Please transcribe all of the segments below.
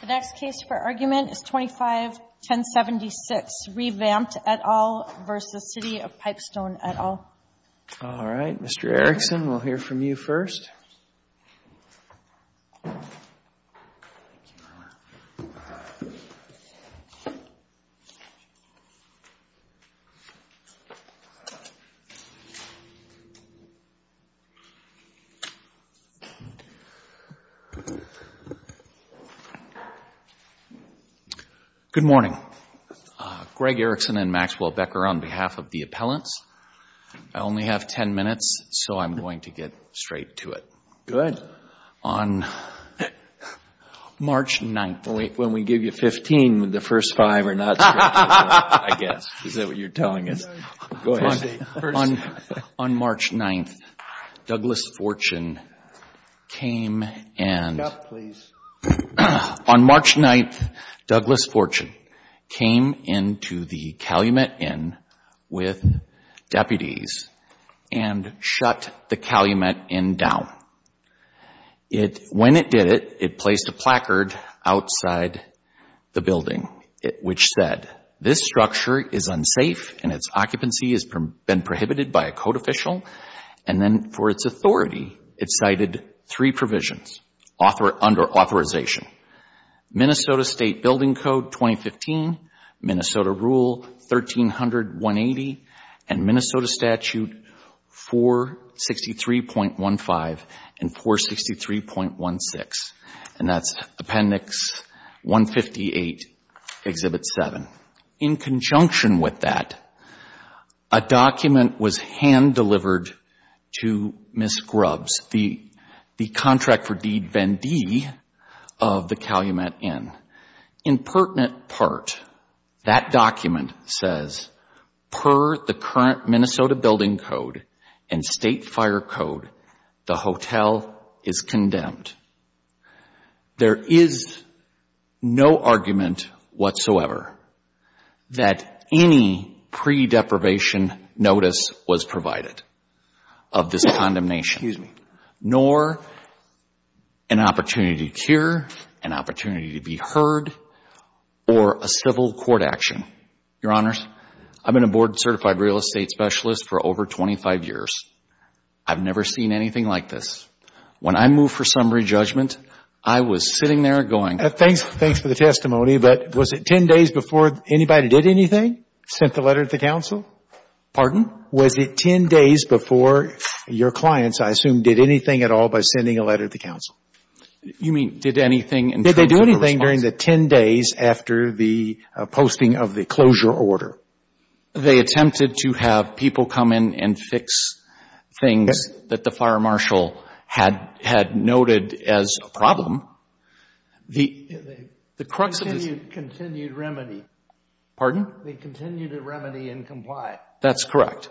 The next case for argument is 25-1076, reVamped et al. v. City of Pipestone et al. All right, Mr. Erickson, we'll hear from you first. Good morning. Greg Erickson and Maxwell Becker on behalf of the appellants. I only have 10 minutes, so I'm going to get straight to it. On March 9th, Douglas Fortune came and to the Calumet Inn with deputies and shut the Calumet Inn down. When it did it, it placed a placard outside the building, which said this structure is unsafe and its occupancy has been prohibited by a code official, and then for its authority, it cited three provisions under authorization. Minnesota State Building Code 2015, Minnesota Rule 1300-180, and Minnesota Statute 463.15 and 463.16, and that's Appendix 158, Exhibit 7. In conjunction with that, a document was hand-delivered to Ms. Grubbs, the contract for deed Vendee of the Calumet Inn. In pertinent part, that document says, per the current Minnesota Building Code and State Fire Code, the hotel is condemned. There is no argument whatsoever that any pre-deprivation notice was provided of this condemnation, nor an opportunity to cure, an opportunity to be heard, or a civil court action. Your Honors, I've been a board certified real estate specialist for over 25 years. I've never seen anything like this. When I moved for summary judgment, I was sitting there going. Thanks for the testimony, but was it 10 days before anybody did anything, sent the letter to the counsel? Pardon? Was it 10 days before your clients, I assume, did anything at all by sending a letter to the counsel? You mean did anything in terms of response? Did they do anything during the 10 days after the posting of the closure order? They attempted to have people come in and fix things that the fire marshal had noted as a problem. The crux of this is... They continued remedy. Pardon? They continued to remedy and comply. That's correct,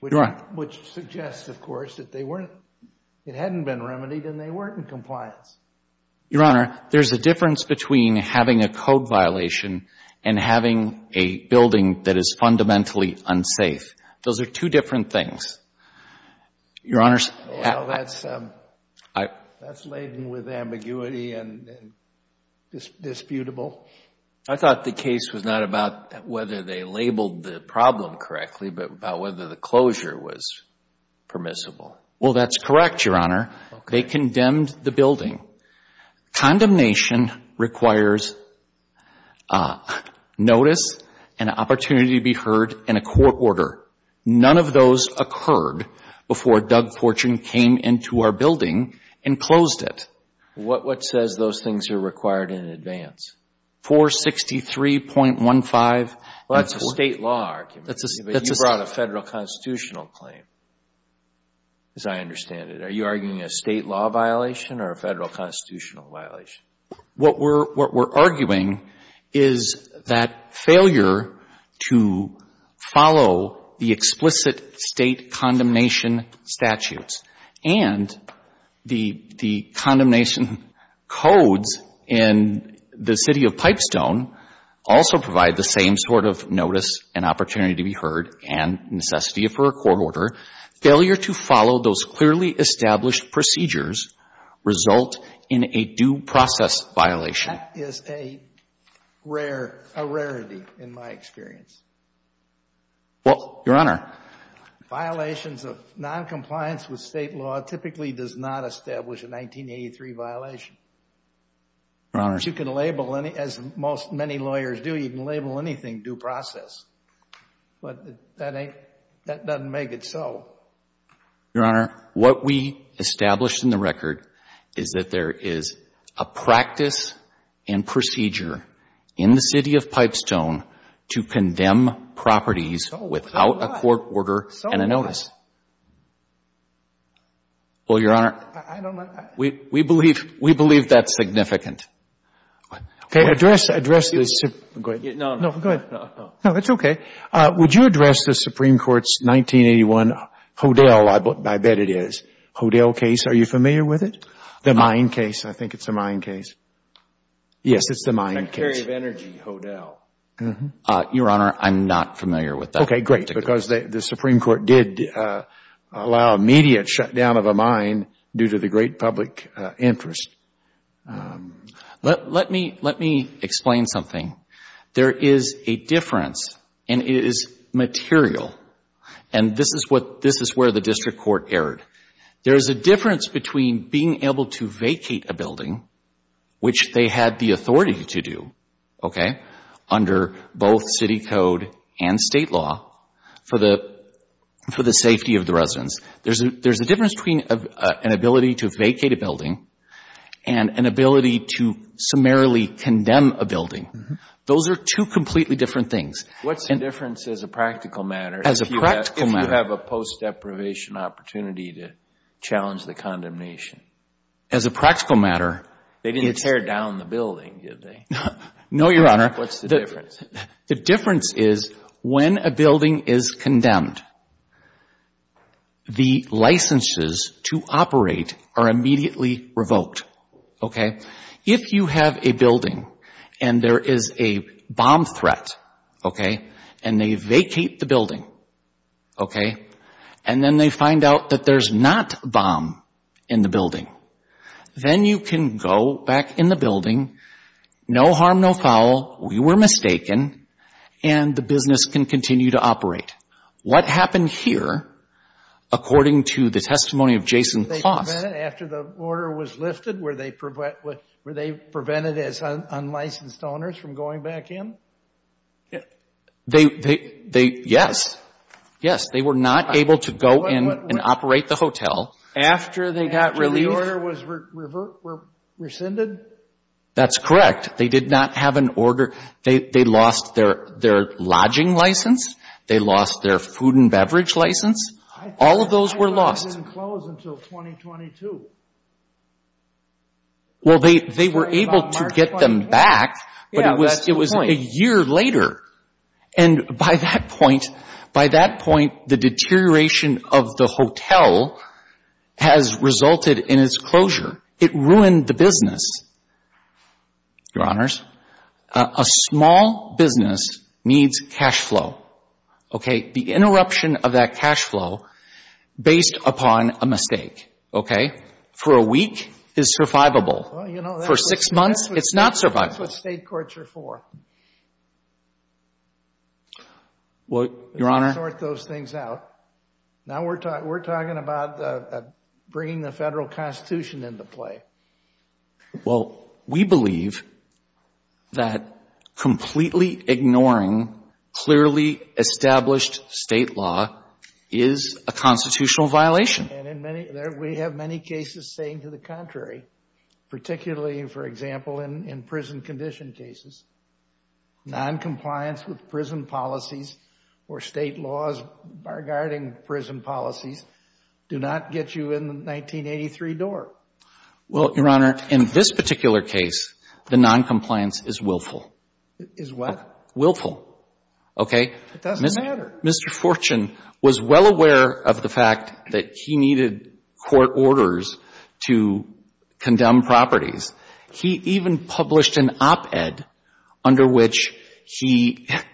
Your Honor. Which suggests, of course, that it hadn't been remedied and they weren't in compliance. Your Honor, there's a difference between having a code violation and having a building that is fundamentally unsafe. Those are two different things. Your Honors... Well, that's laden with ambiguity and disputable. I thought the case was not about whether they labeled the problem correctly, but about whether the closure was permissible. Well, that's correct, Your Honor. They condemned the building. Condemnation requires notice and an opportunity to be heard and a court order. None of those occurred before Doug Fortune came into our building and closed it. What says those things are required in advance? 463.15... Well, that's a state law argument, but you brought a federal constitutional claim, as I understand it. Are you arguing a state law violation or a federal constitutional violation? What we're arguing is that failure to follow the explicit state condemnation statutes and the condemnation codes in the city of Pipestone also provide the same sort of notice and opportunity to be heard and necessity for a court order. Failure to follow those clearly established procedures result in a due process violation. That is a rare, a rarity in my experience. Well, Your Honor... Violations of noncompliance with state law typically does not establish a 1983 violation. Your Honors... Which you can label, as many lawyers do, you can label anything due process, but that doesn't make it so. Your Honor, what we established in the record is that there is a practice and procedure in the city of Pipestone to condemn properties without a court order and a notice. So what? Well, Your Honor... I don't... We believe that's significant. Okay, address the... Go ahead. No, no. No, go ahead. No, no. No, it's okay. Would you address the Supreme Court's 1981 Hodel, I bet it is, Hodel case? Are you familiar with it? The mine case, I think it's a mine case. Yes, it's the mine case. The Secretary of Energy, Hodel. Your Honor, I'm not familiar with that. Okay, great, because the Supreme Court did allow immediate shutdown of a mine due to the great public interest. Let me explain something. There is a difference, and it is material, and this is where the district court erred. There is a difference between being able to vacate a building, which they had the authority to do, okay, under both city code and state law for the safety of the residents. There is a difference between an ability to vacate a building and an ability to summarily condemn a building. Those are two completely different things. What's the difference as a practical matter... As a practical matter.... if you have a post deprivation opportunity to challenge the condemnation? As a practical matter, it's... They didn't tear down the building, did they? No, Your Honor. What's the difference? The difference is when a building is condemned, the licenses to operate are immediately revoked. If you have a building and there is a bomb threat, and they vacate the building, and then they find out that there's not a bomb in the building, then you can go back in the building, no harm, no foul, we were mistaken, and the business can continue to operate. What happened here, according to the testimony of Jason Kloss... Were they prevented after the order was lifted? Were they prevented as unlicensed owners from going back in? Yes. Yes, they were not able to go in and operate the hotel. After they got relief? After the order was rescinded? That's correct. They did not have an order. They lost their lodging license. They lost their food and beverage license. All of those were lost. I thought they were not going to close until 2022. Well, they were able to get them back, but it was a year later. And by that point, the deterioration of the hotel has resulted in its closure. It ruined the business, Your Honors. A small business needs cash flow, okay? The interruption of that cash flow based upon a mistake, okay, for a week is survivable. For six months, it's not survivable. That's what state courts are for. Well, Your Honor... They sort those things out. Now we're talking about bringing the Federal Constitution into play. Well, we believe that completely ignoring clearly established state law is a constitutional violation. And in many... we have many cases saying to the contrary, particularly, for example, in prison condition cases. Noncompliance with prison policies or state laws bargarding prison policies do not get you in the 1983 door. Well, Your Honor, in this particular case, the noncompliance is willful. Is what? Willful, okay? It doesn't matter. Mr. Fortune was well aware of the fact that he needed court orders to condemn properties. He even published an op-ed under which he said,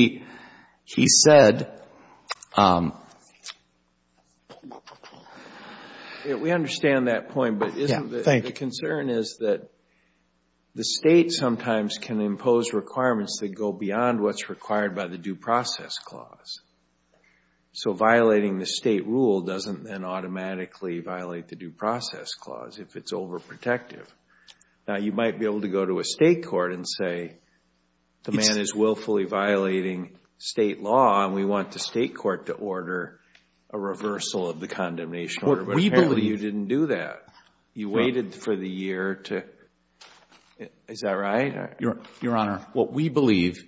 you know, that the state should not... We understand that point, but the concern is that the state sometimes can impose requirements that go beyond what's required by the Due Process Clause. So violating the state rule doesn't then automatically violate the Due Process Clause if it's overprotective. Now, you might be able to go to a state court and say, the man is willfully violating state law and we want the state court to order a reversal of the condemnation order, but apparently you didn't do that. You waited for the year to... is that right? Your Honor, what we believe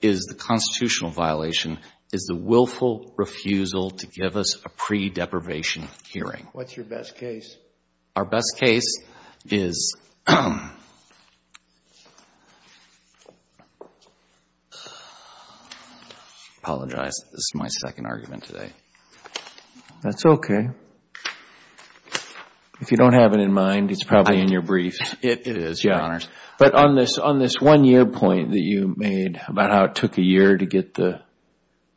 is the constitutional violation is the willful refusal to give us a pre-deprivation hearing. What's your best case? Our best case is... I apologize, this is my second argument today. That's okay. If you don't have it in mind, it's probably in your brief. It is, Your Honor. But on this one-year point that you made about how it took a year to get the...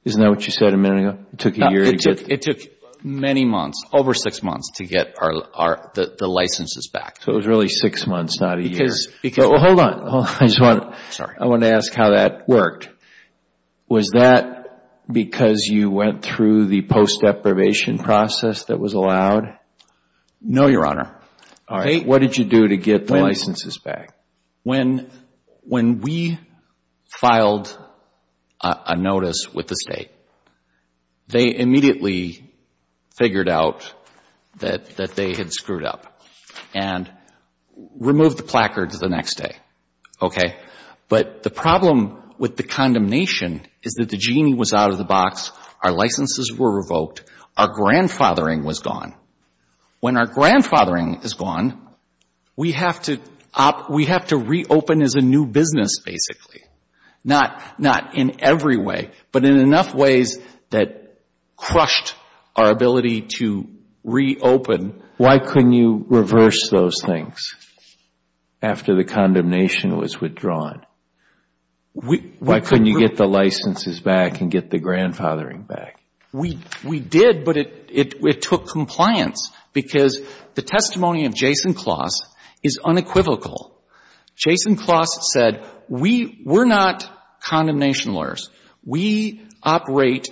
isn't that what you said a minute ago, it took a year to get... It took many months, over six months to get the licenses back. So, it was really six months, not a year. Hold on. I want to ask how that worked. Was that because you went through the post-deprivation process that was allowed? No, Your Honor. What did you do to get the licenses back? When we filed a notice with the State, they immediately figured out that they had screwed up and removed the placards the next day, okay? But the problem with the condemnation is that the genie was out of the box, our licenses were revoked, our grandfathering was gone. When our grandfathering is gone, we have to reopen as a new business, basically. Not in every way, but in enough ways that crushed our ability to reopen. Why couldn't you reverse those things after the condemnation was withdrawn? Why couldn't you get the licenses back and get the grandfathering back? We did, but it took compliance because the testimony of Jason Closs is unequivocal. Jason Closs said, we're not condemnation lawyers. We operate,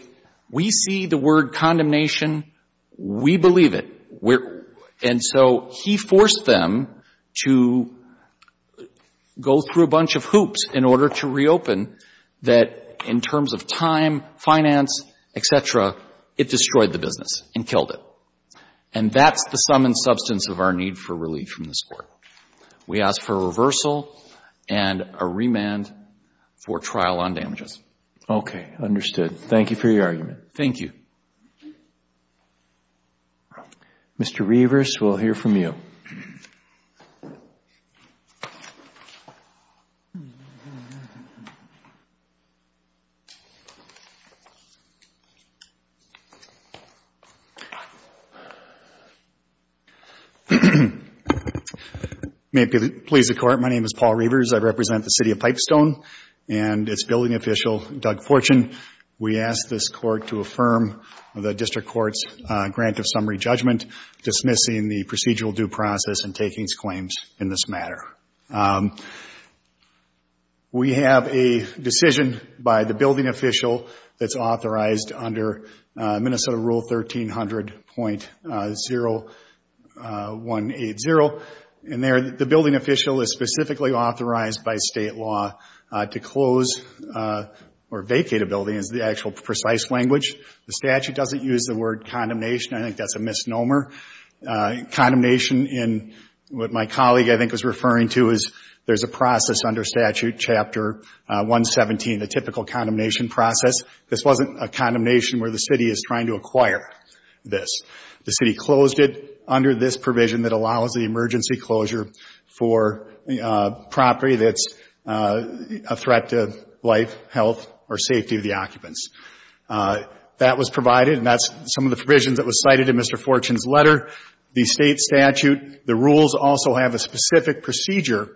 we see the word condemnation, we believe it. And so, he forced them to go through a bunch of hoops in order to reopen that in terms of time, finance, et cetera. It destroyed the business and killed it. And that's the sum and substance of our need for relief from this Court. We ask for a reversal and a remand for trial on damages. Okay. Understood. Thank you for your argument. Thank you. Mr. Reavers, we'll hear from you. May it please the Court, my name is Paul Reavers. I represent the City of Pipestone and its building official, Doug Fortune. We ask this Court to affirm the District Court's grant of summary judgment dismissing the procedural due process and takings claims in this matter. We have a decision by the building official that's authorized under Minnesota Rule 1300.0180. And there, the building official is specifically authorized by state law to close or vacate a building is the actual precise language. The statute doesn't use the word condemnation. I think that's a misnomer. Condemnation in what my colleague, I think, was referring to is there's a process under statute chapter 117, the typical condemnation process. This wasn't a condemnation where the City is trying to acquire this. The City closed it under this provision that allows the emergency closure for property that's a threat to life, health, or safety of the occupants. That was provided and that's some of the provisions that was cited in Mr. Fortune's letter. The state statute, the rules also have a specific procedure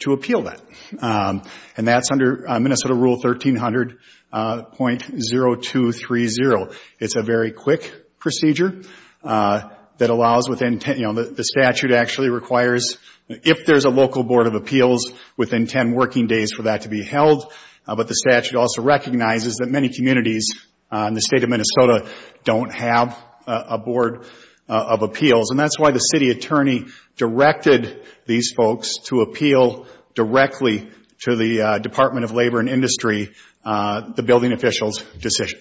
to appeal that. And that's under Minnesota Rule 1300.0230. It's a very quick procedure that allows within 10, you know, the statute actually requires if there's a local board of appeals within 10 working days for that to be held. But the statute also recognizes that many communities in the state of Minnesota don't have a board of appeals. And that's why the City Attorney directed these folks to appeal directly to the Department of Labor and Industry, the building official's decision.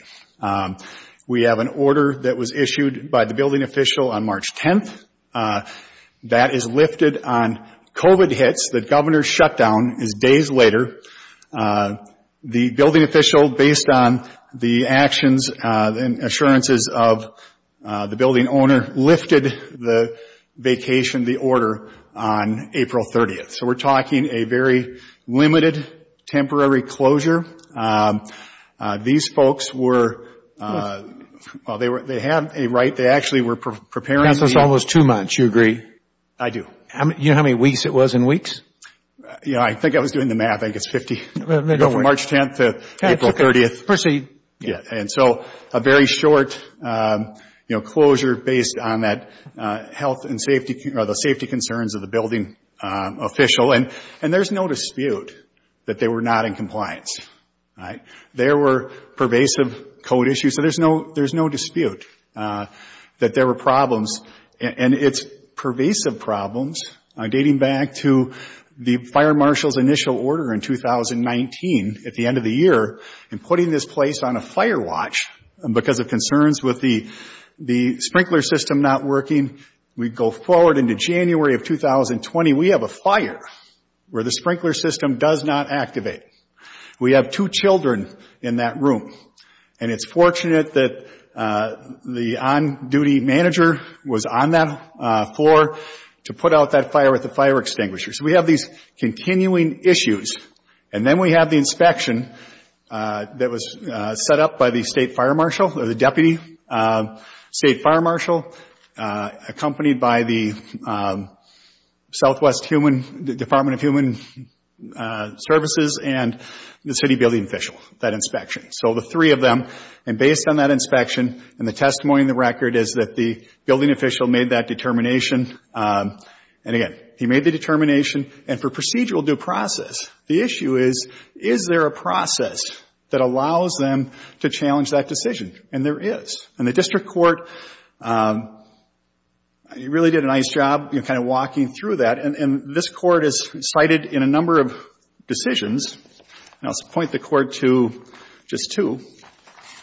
We have an order that was issued by the building official on March 10th that is lifted on COVID hits. The Governor's shutdown is days later. The building official, based on the actions and assurances of the building owner, lifted the vacation, the order, on April 30th. So we're talking a very limited, temporary closure. These folks were, well, they have a right, they actually were preparing. That's almost two months, you agree? I do. Do you know how many weeks it was in weeks? Yeah, I think I was doing the math. I think it's 50. No, don't worry. From March 10th to April 30th. Okay, it's okay. Yeah. And so a very short, you know, closure based on that health and safety, or the safety concerns of the building official. And there's no dispute that they were not in compliance, right? There were pervasive code issues, so there's no dispute that there were problems. And it's pervasive problems, dating back to the fire marshal's initial order in 2019, at the end of the year, and putting this place on a fire watch because of concerns with the sprinkler system not working. We go forward into January of 2020, we have a fire where the sprinkler system does not activate. We have two children in that room. And it's fortunate that the on-duty manager was on that floor to put out that fire with the fire extinguisher. So we have these continuing issues. And then we have the inspection that was set up by the state fire marshal, or the deputy state fire marshal, accompanied by the Southwest Department of Human Services and the city building official. So the three of them. And based on that inspection, and the testimony in the record is that the building official made that determination, and again, he made the determination. And for procedural due process, the issue is, is there a process that allows them to challenge that decision? And there is. And the district court really did a nice job kind of walking through that, and this court has cited in a number of decisions, and I'll point the court to just two,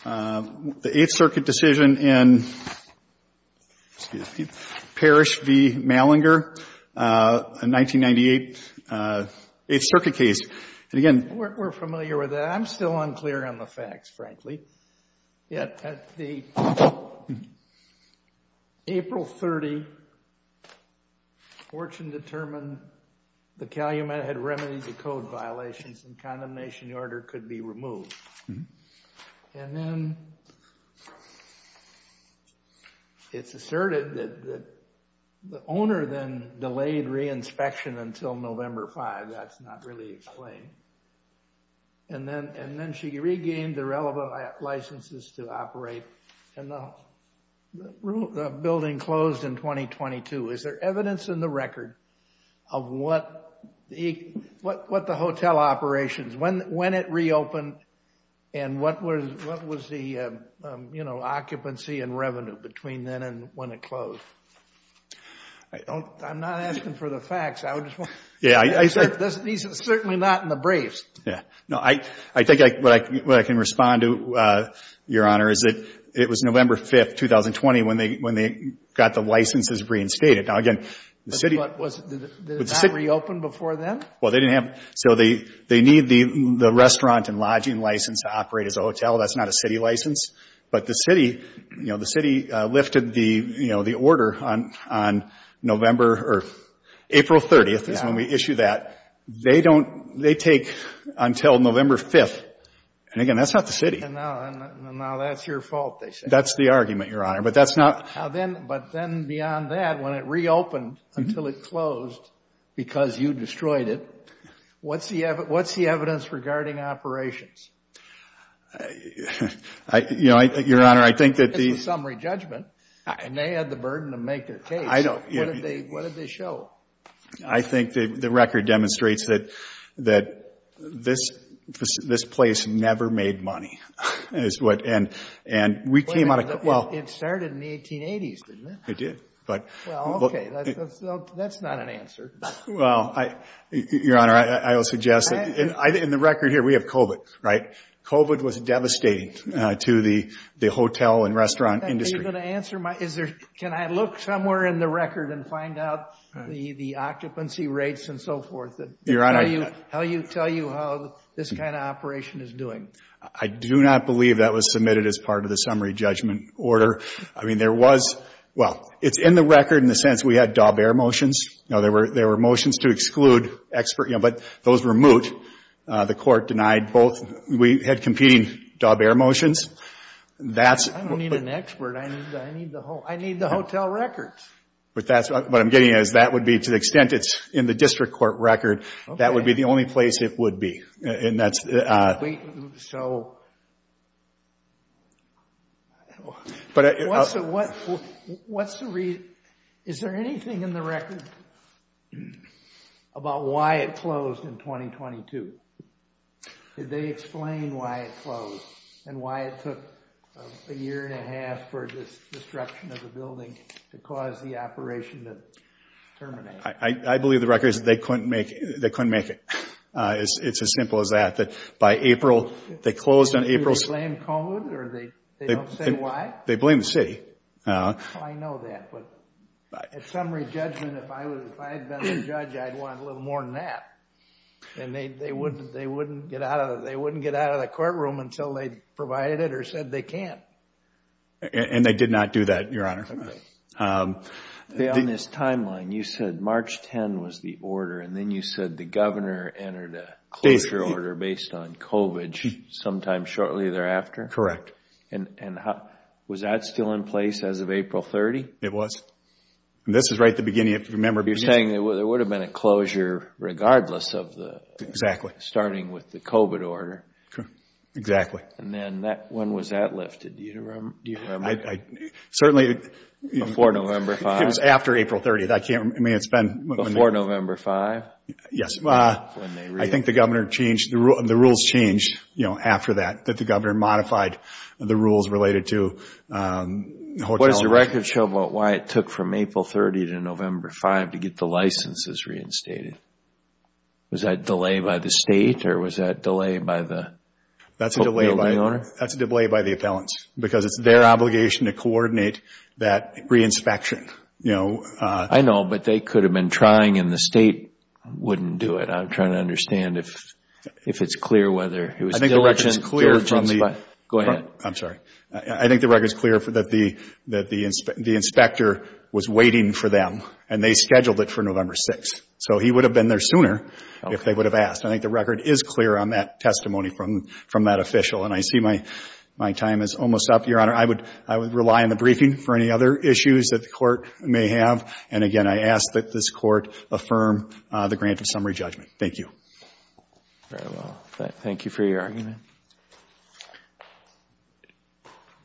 the Eighth Circuit decision in Parrish v. Malinger, a 1998 Eighth Circuit case. And again, we're familiar with that. I'm still unclear on the facts, frankly. At the April 30, Fortune determined the calumet had remedies of code violations and condemnation order could be removed. And then it's asserted that the owner then delayed re-inspection until November 5. That's not really explained. And then she regained the relevant licenses to operate, and the building closed in 2022. Is there evidence in the record of what the hotel operations, when it reopened, and what was the, you know, occupancy and revenue between then and when it closed? I'm not asking for the facts. He's certainly not in the briefs. No, I think what I can respond to, Your Honor, is that it was November 5, 2020, when they got the licenses reinstated. Now, again, the city... But what, did it not reopen before then? Well, they didn't have... So they need the restaurant and lodging license to operate as a hotel. That's not a city license. But the city, you know, the city lifted the, you know, the order on November or April 30th is when we issue that. They don't, they take until November 5th, and again, that's not the city. And now that's your fault, they say. That's the argument, Your Honor, but that's not... Now then, but then beyond that, when it reopened until it closed because you destroyed it, what's the evidence regarding operations? I, you know, Your Honor, I think that the... It's a summary judgment, and they had the burden to make their case. I know. What did they show? I think that the record demonstrates that this place never made money, is what... And we came out of... It started in the 1880s, didn't it? It did, but... Well, okay, that's not an answer. Well, Your Honor, I will suggest that... In the record here, we have COVID, right? COVID was devastating to the hotel and restaurant industry. Can I answer my... Is there... Can I look somewhere in the record and find out the occupancy rates and so forth? Your Honor... How you tell you how this kind of operation is doing? I do not believe that was submitted as part of the summary judgment order. I mean, there was... Well, it's in the record in the sense we had Daubert motions. There were motions to exclude expert, but those were moot. The court denied both. We had competing Daubert motions. I don't need an expert. I need the hotel records. What I'm getting at is that would be, to the extent it's in the district court record, that would be the only place it would be. And that's... Wait. So... What's the reason? Is there anything in the record about why it closed in 2022? Did they explain why it closed and why it took a year and a half for this destruction of the building to cause the operation to terminate? I believe the record is that they couldn't make it. It's as simple as that. That by April, they closed on April... Do they blame COVID or they don't say why? They blame the city. I know that, but at summary judgment, if I had been the judge, I'd want a little more than that. And they wouldn't get out of the courtroom until they provided it or said they can't. And they did not do that, Your Honor. On this timeline, you said March 10 was the order, and then you said the governor entered a closure order based on COVID sometime shortly thereafter? Correct. And was that still in place as of April 30? It was. And this is right at the beginning, if you remember. You're saying there would have been a closure regardless of the... Exactly. Starting with the COVID order. Exactly. And then when was that lifted? Do you remember? Certainly... Before November 5? It was after April 30. I can't remember. Before November 5? Yes. I think the rules changed after that, that the governor modified the rules related to hotel... What does the record show about why it took from April 30 to November 5 to get the licenses reinstated? Was that a delay by the state, or was that a delay by the building owner? That's a delay by the appellants, because it's their obligation to coordinate that reinspection. I know, but they could have been trying, and the state wouldn't do it. I'm trying to understand if it's clear whether it was diligent from the... Go ahead. I'm sorry. I think the record's clear that the inspector was waiting for them, and they scheduled it for November 6. So he would have been there sooner if they would have asked. I think the record is clear on that testimony from that official, and I see my time is almost up, Your Honor. I would rely on the briefing for any other issues that the Court may have. And, again, I ask that this Court affirm the grant of summary judgment. Thank you. Very well. Thank you for your argument.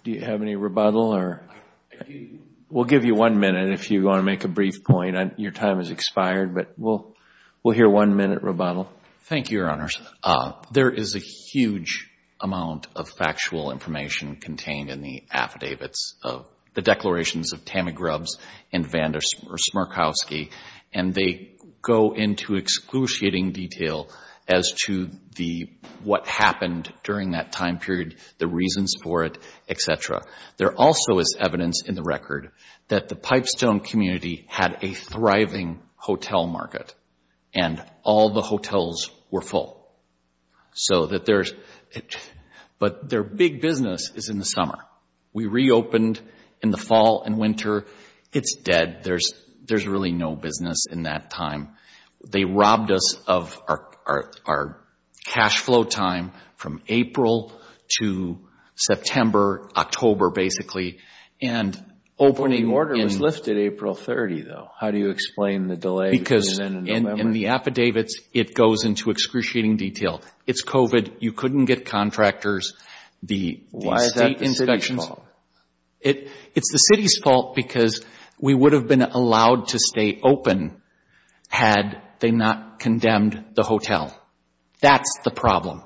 Do you have any rebuttal? We'll give you one minute if you want to make a brief point. Your time has expired, but we'll hear one-minute rebuttal. Thank you, Your Honors. There is a huge amount of factual information contained in the affidavits, the declarations of Tammy Grubbs and Van der Smerkowski, and they go into excruciating detail as to what happened during that time period, the reasons for it, et cetera. There also is evidence in the record that the Pipestone community had a thriving hotel market, and all the hotels were full. But their big business is in the summer. We reopened in the fall and winter. It's dead. There's really no business in that time. They robbed us of our cash flow time from April to September, October, basically. The order was lifted April 30, though. How do you explain the delay? Because in the affidavits, it goes into excruciating detail. It's COVID. You couldn't get contractors. Why is that the city's fault? It's the city's fault because we would have been allowed to stay open had they not condemned the hotel. That's the problem.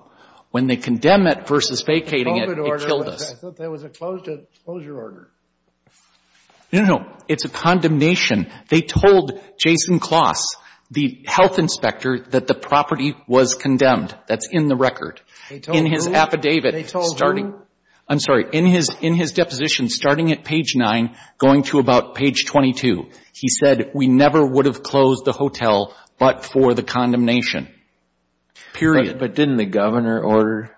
When they condemn it versus vacating it, it killed us. I thought there was a closure order. No, no, no. It's a condemnation. They told Jason Kloss, the health inspector, that the property was condemned. That's in the record. They told who? In his affidavit starting at page 9 going to about page 22. He said we never would have closed the hotel but for the condemnation, period. But didn't the governor order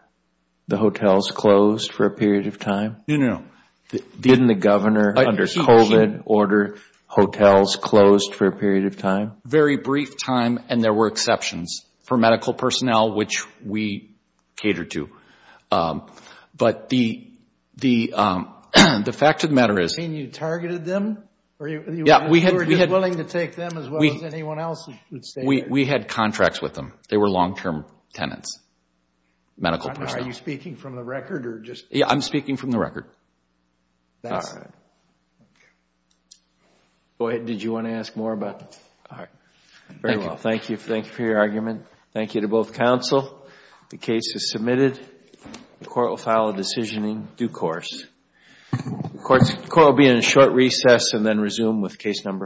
the hotels closed for a period of time? No, no, no. Didn't the governor under COVID order hotels closed for a period of time? Very brief time, and there were exceptions for medical personnel, which we catered to. But the fact of the matter is we had contracts with them. They were long-term tenants, medical personnel. Are you speaking from the record? Yeah, I'm speaking from the record. Go ahead. Did you want to ask more about it? All right. Thank you. Thank you for your argument. Thank you to both counsel. The case is submitted. The court will file a decision in due course. The court will be in a short recess and then resume with case number four.